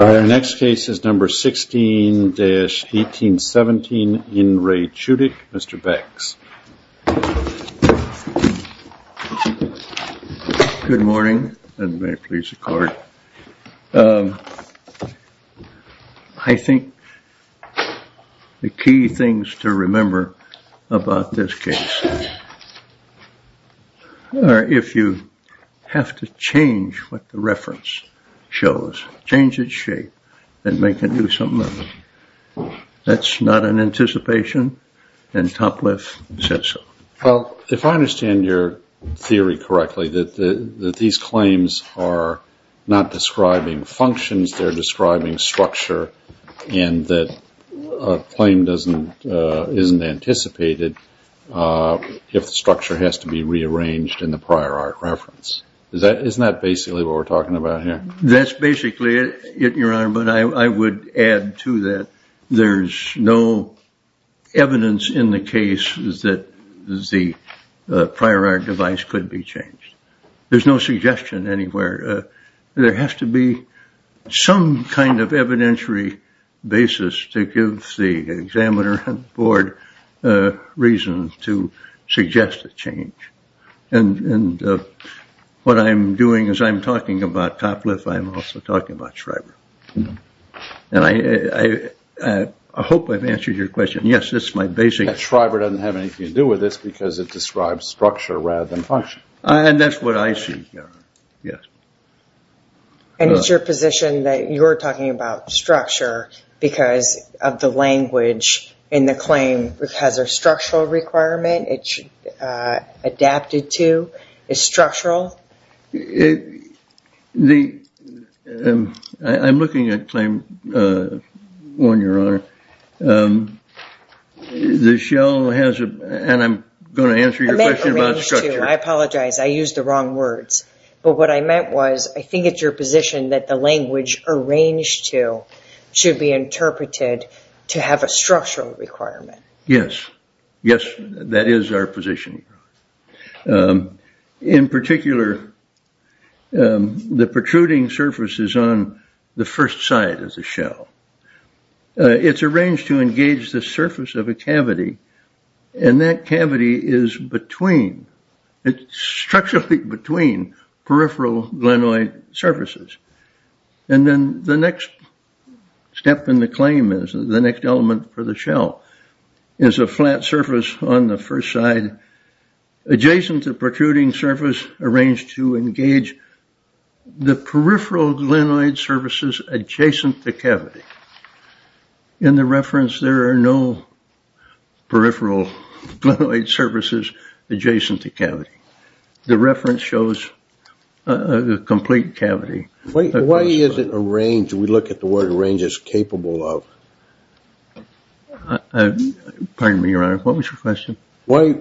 Our next case is number 16-1817 in Re Chudik. Mr. Becks. Good morning and may it please the court. I think the key things to remember about this case are if you have to change what the reference shows, change its shape and make a new something of it. That's not an anticipation and Topliff said so. Well, if I understand your theory correctly, that these claims are not describing functions, they're describing structure and that a claim isn't anticipated if the structure has to be rearranged in the prior art reference. Isn't that basically what we're talking about here? That's basically it, Your Honor, but I would add to that there's no evidence in the case that the prior art device could be changed. There's no suggestion anywhere. There has to be some kind of evidentiary basis to give the examiner and board reason to suggest a change. What I'm doing is I'm talking about Topliff, I'm also talking about Schreiber. I hope I've answered your question. Yes, this is my basic... Schreiber doesn't have anything to do with this because it describes structure rather than function. That's what I see, Your Honor. And it's your position that you're talking about structure because of the language in the claim has a structural requirement, it's adapted to, it's structural? I'm looking at claim one, Your Honor. The shell has a... and I'm going to answer your question about structure. I apologize. I used the wrong words. But what I meant was I think it's your position that the language arranged to should be interpreted to have a structural requirement. Yes. Yes, that is our position. In particular, the protruding surface is on the first side of the shell. It's arranged to engage the surface of a cavity. And that cavity is between, it's structurally between peripheral glenoid surfaces. And then the next step in the claim is the next element for the shell. The shell is a flat surface on the first side adjacent to protruding surface arranged to engage the peripheral glenoid surfaces adjacent to cavity. In the reference, there are no peripheral glenoid surfaces adjacent to cavity. The reference shows a complete cavity. Why is it arranged? We look at the word arranged as capable of. Pardon me, Your Honor. What was your question? Why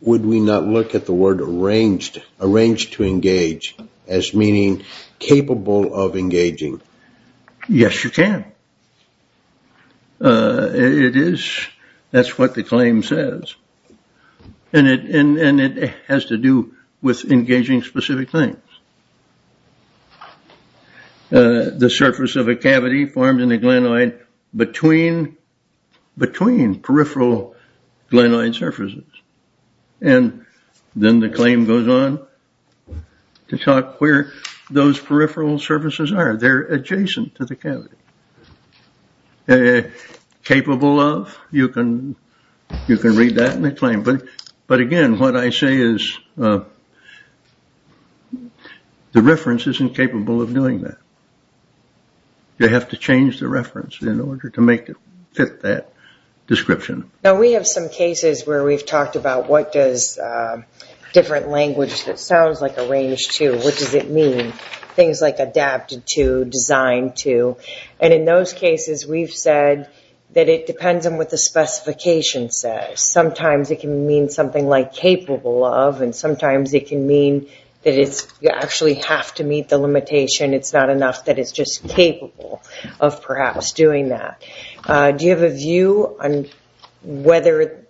would we not look at the word arranged, arranged to engage as meaning capable of engaging? Yes, you can. It is. That's what the claim says. And it has to do with engaging specific things. The surface of a cavity formed in a glenoid between, between peripheral glenoid surfaces. And then the claim goes on to talk where those peripheral surfaces are. They're adjacent to the cavity. Capable of, you can read that in the claim. But again, what I say is the reference isn't capable of doing that. You have to change the reference in order to make it fit that description. Now we have some cases where we've talked about what does different language that sounds like arranged to, what does it mean? Things like adapted to, designed to. And in those cases, we've said that it depends on what the specification says. Sometimes it can mean something like capable of. And sometimes it can mean that you actually have to meet the limitation. It's not enough that it's just capable of perhaps doing that. Do you have a view on whether,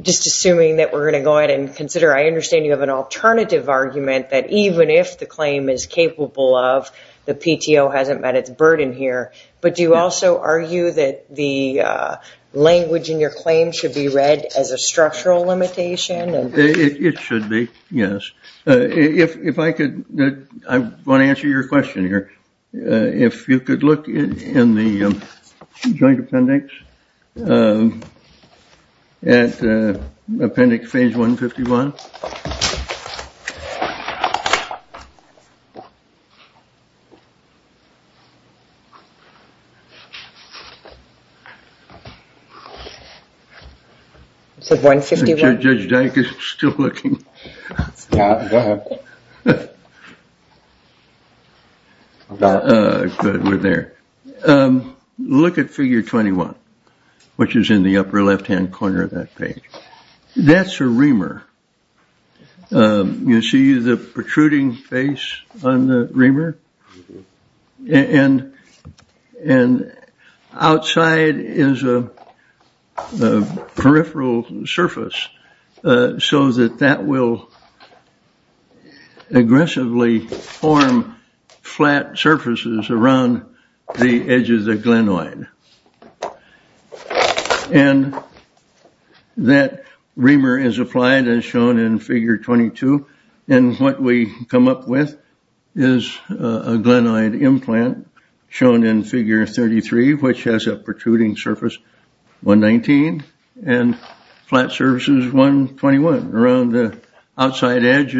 just assuming that we're going to go ahead and consider, I understand you have an alternative argument that even if the claim is capable of, the PTO hasn't met its burden here. But do you also argue that the language in your claim should be read as a structural limitation? It should be, yes. If I could, I want to answer your question here. If you could look in the Joint Appendix at Appendix Phase 151. Judge Dyke is still looking. We're there. Look at Figure 21, which is in the upper left-hand corner of that page. That's a reamer. You see the protruding face on the reamer? And outside is a peripheral surface so that that will aggressively form flat surfaces around the edges of glenoid. And that reamer is applied as shown in Figure 22. And what we come up with is a glenoid implant shown in Figure 33, which has a protruding surface, 119, and flat surfaces, 121. Around the outside edge,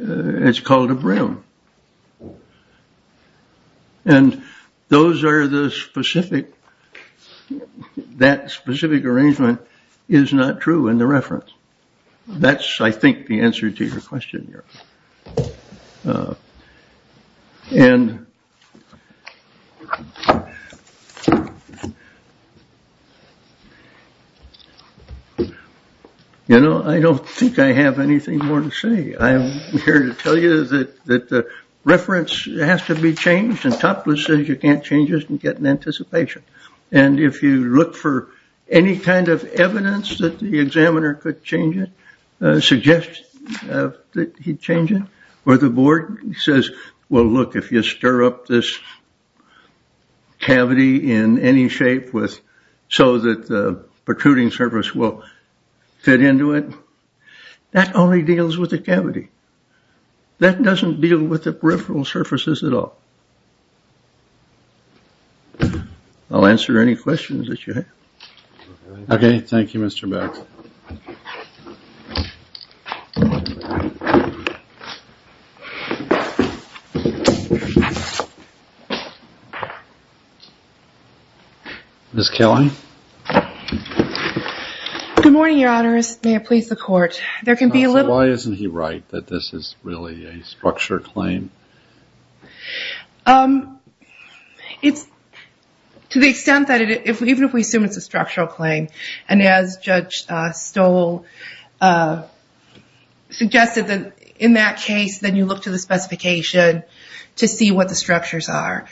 it's called a brim. And those are the specific, that specific arrangement is not true in the reference. That's, I think, the answer to your question here. And, you know, I don't think I have anything more to say. I'm here to tell you that the reference has to be changed. And Topless says you can't change it and get an anticipation. And if you look for any kind of evidence that the examiner could change it, suggest that he change it, or the board says, well, look, if you stir up this cavity in any shape so that the protruding surface will fit into it, that only deals with the cavity. That doesn't deal with the peripheral surfaces at all. I'll answer any questions that you have. OK, thank you, Mr. Kelly. Good morning, Your Honors. May it please the Court. There can be a little. Why isn't he right that this is really a structure claim? It's to the extent that even if we assume it's a structural claim, and as Judge Stoll suggested, in that case, then you look to the specification to see what the structures are.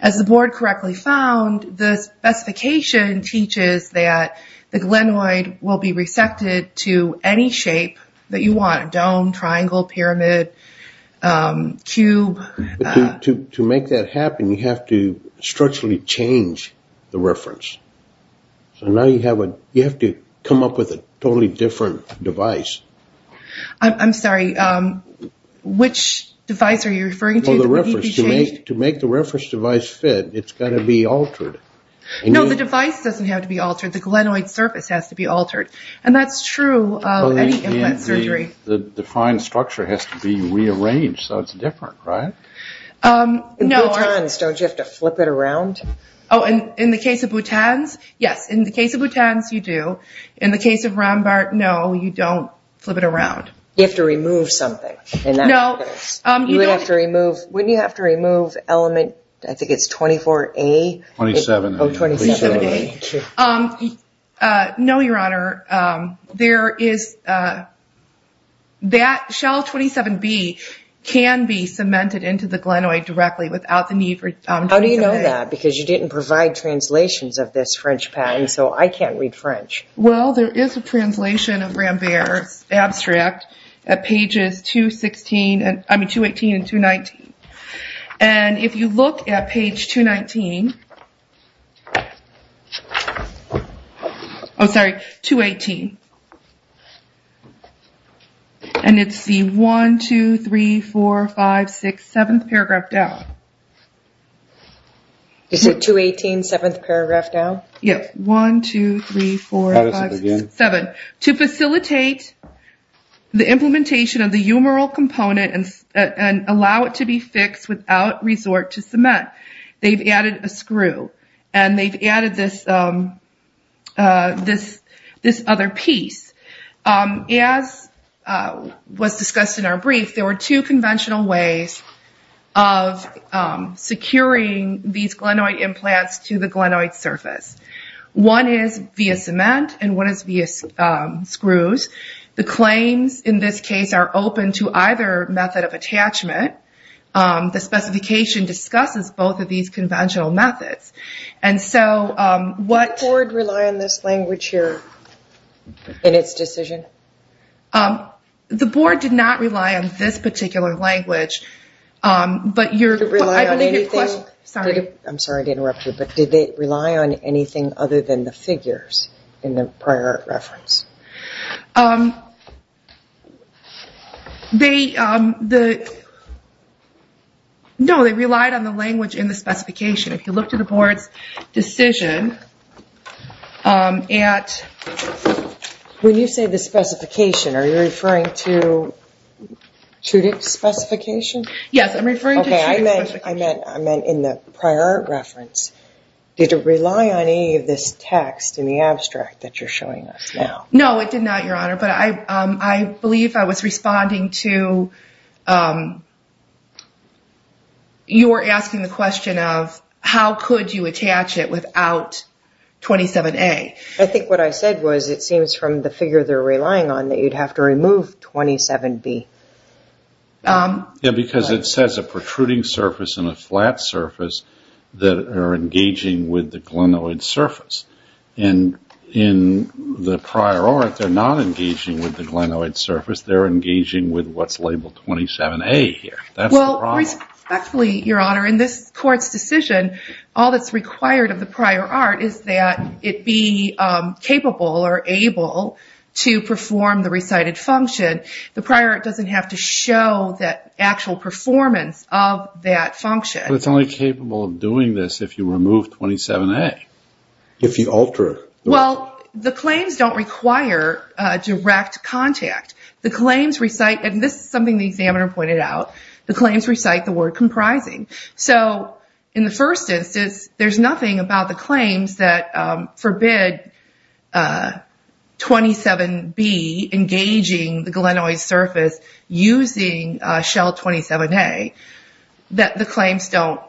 As the board correctly found, the specification teaches that the glenoid will be resected to any shape that you want, dome, triangle, pyramid, cube. To make that happen, you have to structurally change the reference. So now you have to come up with a totally different device. I'm sorry, which device are you referring to? To make the reference device fit, it's got to be altered. No, the device doesn't have to be altered. The glenoid surface has to be altered. And that's true of any implant surgery. The defined structure has to be rearranged, so it's different, right? No. In butans, don't you have to flip it around? Oh, in the case of butans, yes. In the case of butans, you do. In the case of Rombart, no, you don't flip it around. You have to remove something. No. You would have to remove, wouldn't you have to remove element, I think it's 24A? 27A. Oh, 27A. No, Your Honor. There is that shell 27B can be cemented into the glenoid directly without the need for 27A. How do you know that? Because you didn't provide translations of this French patent, so I can't read French. Well, there is a translation of Rambert's abstract at pages 218 and 219. And if you look at page 219, I'm sorry, 218, and it's the 1, 2, 3, 4, 5, 6, 7th paragraph down. Is it 218, 7th paragraph down? Yes. 1, 2, 3, 4, 5, 6, 7. To facilitate the implementation of the humeral component and allow it to be fixed without resort to cement, they've added a screw, and they've added this other piece. As was discussed in our brief, there were two conventional ways of securing these glenoid implants to the glenoid surface. One is via cement, and one is via screws. The claims in this case are open to either method of attachment. The specification discusses both of these conventional methods. Did the board rely on this language here in its decision? The board did not rely on this particular language. I'm sorry to interrupt you, but did they rely on anything other than the figures in the prior reference? No, they relied on the language in the specification. If you look to the board's decision at... When you say the specification, are you referring to Trudick's specification? Yes, I'm referring to Trudick's specification. Okay, I meant in the prior reference. Did it rely on any of this text in the abstract that you're showing us now? No, it did not, Your Honor, but I believe I was responding to... You were asking the question of how could you attach it without 27A. I think what I said was it seems from the figure they're relying on that you'd have to remove 27B. Yeah, because it says a protruding surface and a flat surface that are engaging with the glenoid surface. In the prior art, they're not engaging with the glenoid surface. They're engaging with what's labeled 27A here. That's the problem. Respectfully, Your Honor, in this court's decision, all that's required of the prior art is that it be capable or able to perform the recited function. The prior art doesn't have to show the actual performance of that function. But it's only capable of doing this if you remove 27A. If you alter the... Well, the claims don't require direct contact. The claims recite... And this is something the examiner pointed out. The claims recite the word comprising. So in the first instance, there's nothing about the claims that forbid 27B engaging the glenoid surface using shell 27A that the claims don't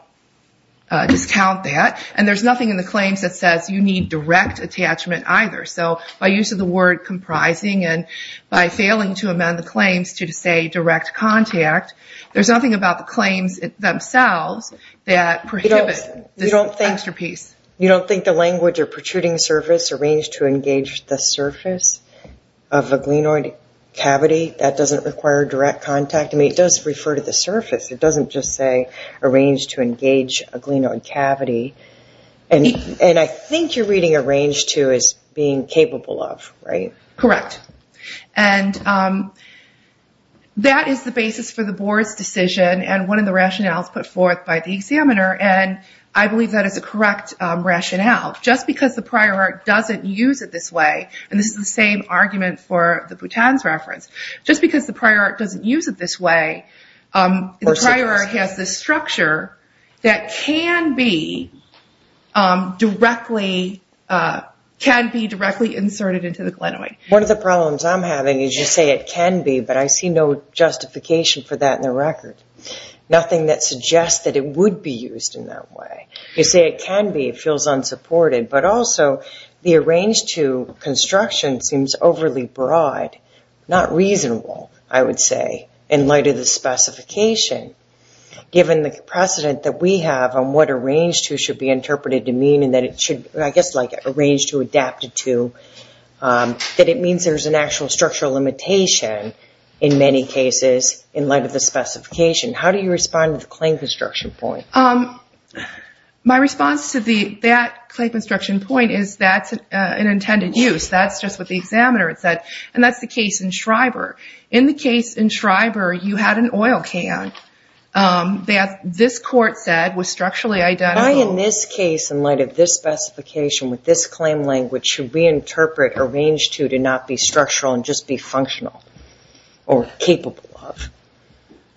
discount that. And there's nothing in the claims that says you need direct attachment either. So by use of the word comprising and by failing to amend the claims to say direct contact, there's nothing about the claims themselves that prohibit this extra piece. You don't think the language of protruding surface arranged to engage the surface of a glenoid cavity, that doesn't require direct contact? I mean, it does refer to the surface. It doesn't just say arranged to engage a glenoid cavity. And I think you're reading arranged to as being capable of, right? Correct. And that is the basis for the board's decision and one of the rationales put forth by the examiner. And I believe that is a correct rationale. Just because the prior art doesn't use it this way, and this is the same argument for the Bhutan's reference, just because the prior art doesn't use it this way, the prior art has this structure that can be directly inserted into the glenoid. One of the problems I'm having is you say it can be, but I see no justification for that in the record. Nothing that suggests that it would be used in that way. You say it can be, it feels unsupported, but also the arranged to construction seems overly broad, not reasonable, I would say, in light of the specification, given the precedent that we have on what arranged to should be interpreted to mean and that it should, I guess, like arranged to adapted to, that it means there's an actual structural limitation in many cases in light of the specification. How do you respond to the claim construction point? My response to that claim construction point is that's an intended use. That's just what the examiner said, and that's the case in Schreiber. In the case in Schreiber, you had an oil can that this court said was structurally identical. Why in this case, in light of this specification with this claim language, should we interpret arranged to to not be structural and just be functional or capable of?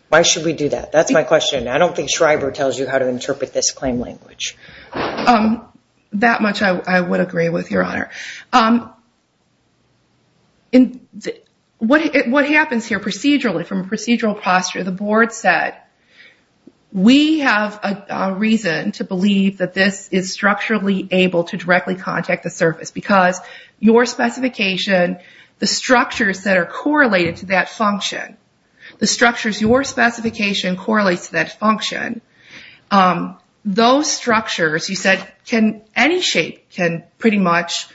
Why should we do that? That's my question. I don't think Schreiber tells you how to interpret this claim language. That much I would agree with, Your Honor. What happens here procedurally, from a procedural posture, the board said, we have a reason to believe that this is structurally able to directly contact the surface because your specification, the structures that are correlated to that function, the structures your specification correlates to that function, those structures, you said, any shape can pretty much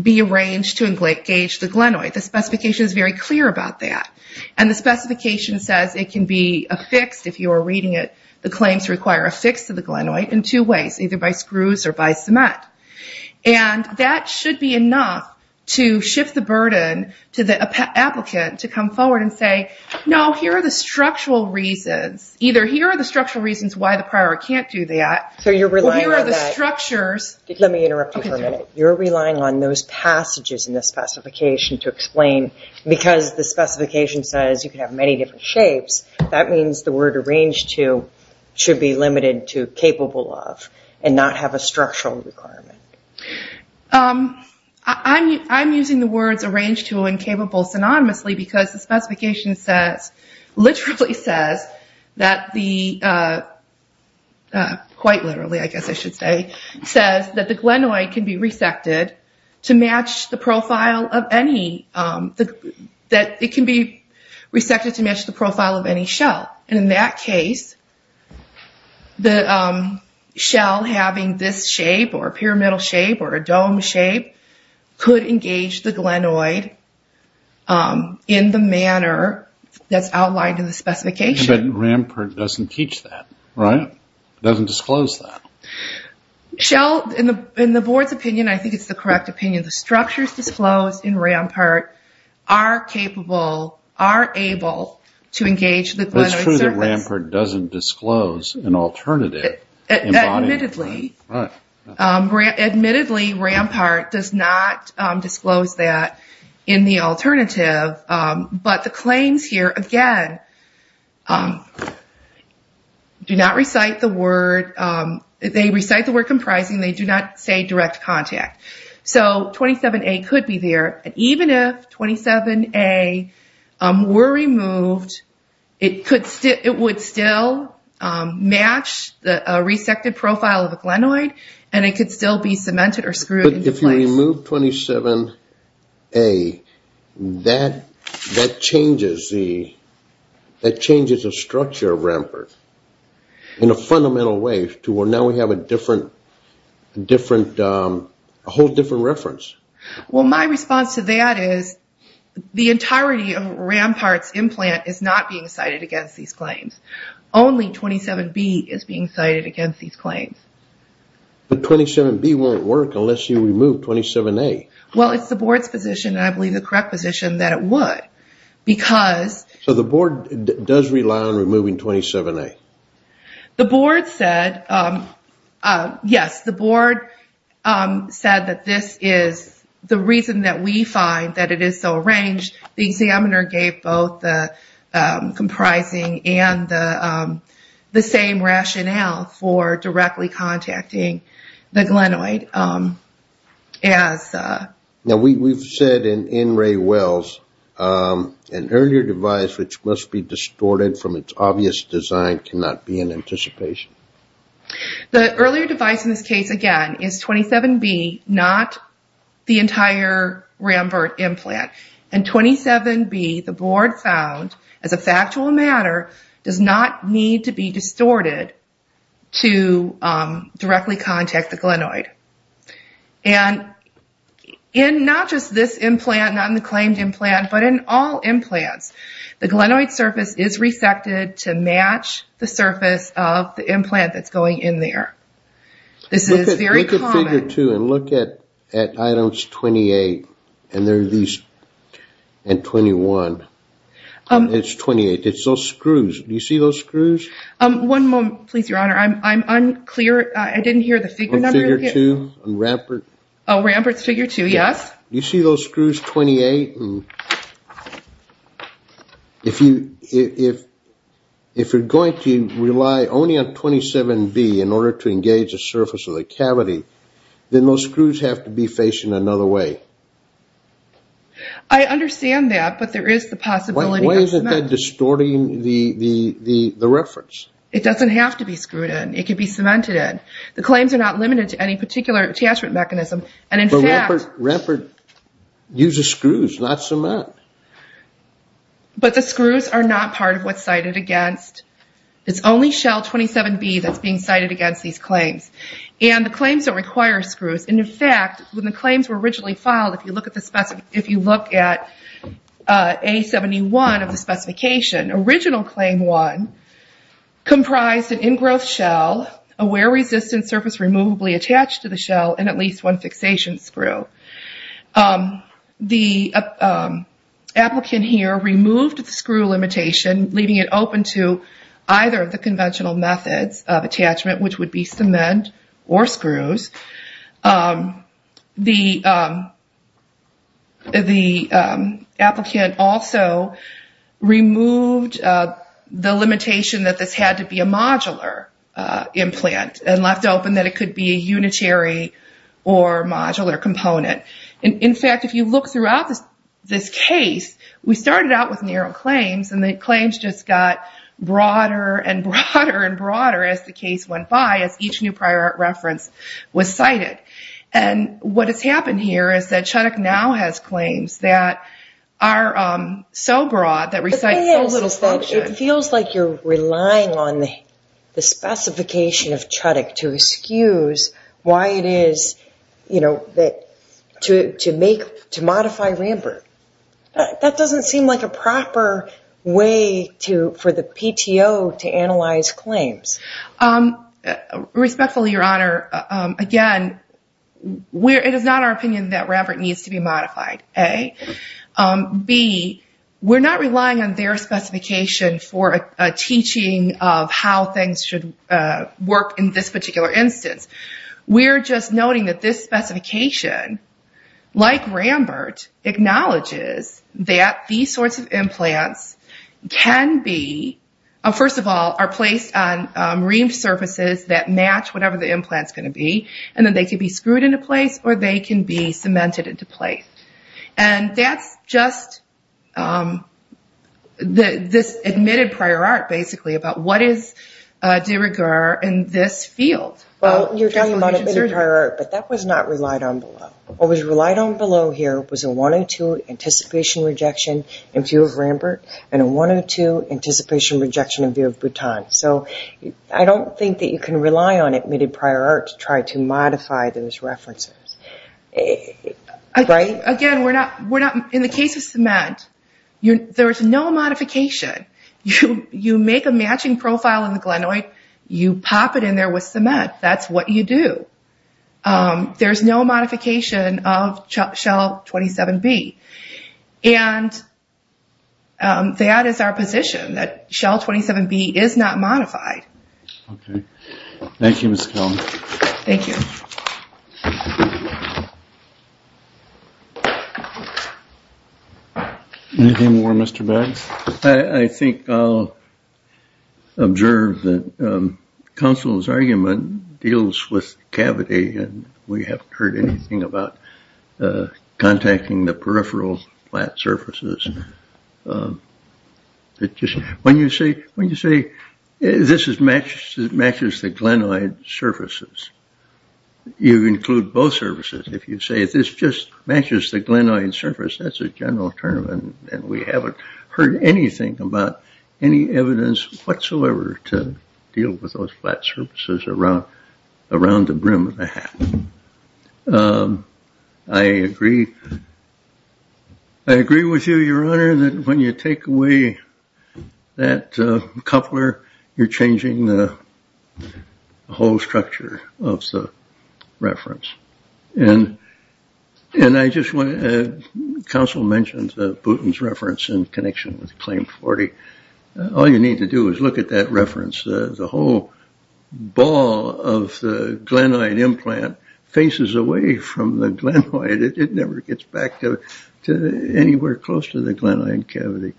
be arranged to engage the glenoid. The specification is very clear about that. The specification says it can be affixed, if you are reading it, the claims require a fix to the glenoid in two ways, either by screws or by cement. That should be enough to shift the burden to the applicant to come forward and say, no, here are the structural reasons. Either here are the structural reasons why the prior can't do that, or here are the structures. Let me interrupt you for a minute. You're relying on those passages in the specification to explain, because the specification says you can have many different shapes, that means the word arranged to should be limited to capable of and not have a structural requirement. I'm using the words arranged to and capable synonymously because the specification literally says that the, quite literally I guess I should say, says that the glenoid can be resected to match the profile of any, that it can be resected to match the profile of any shell. In that case, the shell having this shape or a pyramidal shape or a dome shape, could engage the glenoid in the manner that's outlined in the specification. But RAMPART doesn't teach that, right? It doesn't disclose that. Shell, in the board's opinion, I think it's the correct opinion, the structures disclosed in RAMPART are capable, are able to engage the glenoid surface. It's true that RAMPART doesn't disclose an alternative. Admittedly. Admittedly, RAMPART does not disclose that in the alternative, but the claims here, again, do not recite the word, they recite the word comprising, they do not say direct contact. So 27A could be there, and even if 27A were removed, it would still match the resected profile of the glenoid, and it could still be cemented or screwed into place. But if you remove 27A, that changes the structure of RAMPART in a fundamental way to where now we have a whole different reference. Well, my response to that is the entirety of RAMPART's implant is not being cited against these claims. Only 27B is being cited against these claims. But 27B won't work unless you remove 27A. Well, it's the board's position, and I believe the correct position, that it would. So the board does rely on removing 27A? The board said yes. The board said that this is the reason that we find that it is so arranged. The examiner gave both the comprising and the same rationale for directly contacting the glenoid. Now, we've said in Ray Wells, an earlier device which must be distorted from its obvious design cannot be in anticipation. The earlier device in this case, again, is 27B, not the entire RAMPART implant. And 27B, the board found, as a factual matter, does not need to be distorted to directly contact the glenoid. And in not just this implant, not in the claimed implant, but in all implants, the glenoid surface is resected to match the surface of the implant that's going in there. This is very common. Look at figure 2 and look at items 28 and 21. It's 28. It's those screws. Do you see those screws? One moment, please, Your Honor. I'm unclear. I didn't hear the figure number. Figure 2 on RAMPART? RAMPART's figure 2, yes. Do you see those screws, 28? If you're going to rely only on 27B in order to engage the surface of the cavity, then those screws have to be facing another way. I understand that, but there is the possibility of cement. Why isn't that distorting the reference? It doesn't have to be screwed in. It can be cemented in. The claims are not limited to any particular attachment mechanism. But RAMPART uses screws, not cement. But the screws are not part of what's cited against. It's only shell 27B that's being cited against these claims. And the claims don't require screws. In fact, when the claims were originally filed, if you look at A71 of the specification, original Claim 1 comprised an ingrowth shell, a wear-resistant surface removably attached to the shell, and at least one fixation screw. The applicant here removed the screw limitation, leaving it open to either of the conventional methods of attachment, which would be cement or screws. The applicant also removed the limitation that this had to be a modular implant and left open that it could be a unitary or modular component. In fact, if you look throughout this case, we started out with narrow claims, and the claims just got broader and broader and broader as the case went by, as each new prior reference was cited. And what has happened here is that Chudok now has claims that are so broad that recite so little function. It feels like you're relying on the specification of Chudok to excuse why it is, you know, to modify RAMPART. That doesn't seem like a proper way for the PTO to analyze claims. Respectfully, Your Honor, again, it is not our opinion that RAMPART needs to be modified, A. B, we're not relying on their specification for a teaching of how things should work in this particular instance. We're just noting that this specification, like RAMPART, acknowledges that these sorts of implants can be, first of all, are placed on reamed surfaces that match whatever the implant is going to be, and that they can be screwed into place or they can be cemented into place. And that's just this admitted prior art, basically, about what is de rigueur in this field. Well, you're talking about admitted prior art, but that was not relied on below. What was relied on below here was a 102 anticipation rejection in view of RAMPART and a 102 anticipation rejection in view of Bhutan. So I don't think that you can rely on admitted prior art to try to modify those references, right? Again, in the case of cement, there's no modification. You make a matching profile in the glenoid. You pop it in there with cement. That's what you do. There's no modification of Shell 27B. And that is our position, that Shell 27B is not modified. Okay. Thank you, Ms. Kelley. Thank you. Anything more, Mr. Baggs? I think I'll observe that counsel's argument deals with cavity, and we haven't heard anything about contacting the peripheral flat surfaces. When you say this matches the glenoid surfaces, you include both surfaces. If you say this just matches the glenoid surface, that's a general term, and we haven't heard anything about any evidence whatsoever to deal with those flat surfaces around the brim of the hat. I agree with you, Your Honor, that when you take away that coupler, you're changing the whole structure of the reference. And counsel mentioned Bhutan's reference in connection with Claim 40. All you need to do is look at that reference. The whole ball of the glenoid implant faces away from the glenoid. It never gets back to anywhere close to the glenoid cavity.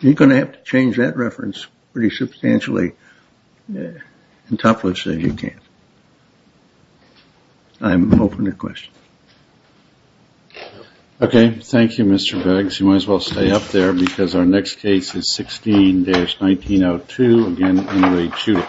You're going to have to change that reference pretty substantially and topless if you can. I'm open to questions. Okay. Thank you, Mr. Baggs. I guess you might as well stay up there because our next case is 16-1902. Again, anyway, shoot it.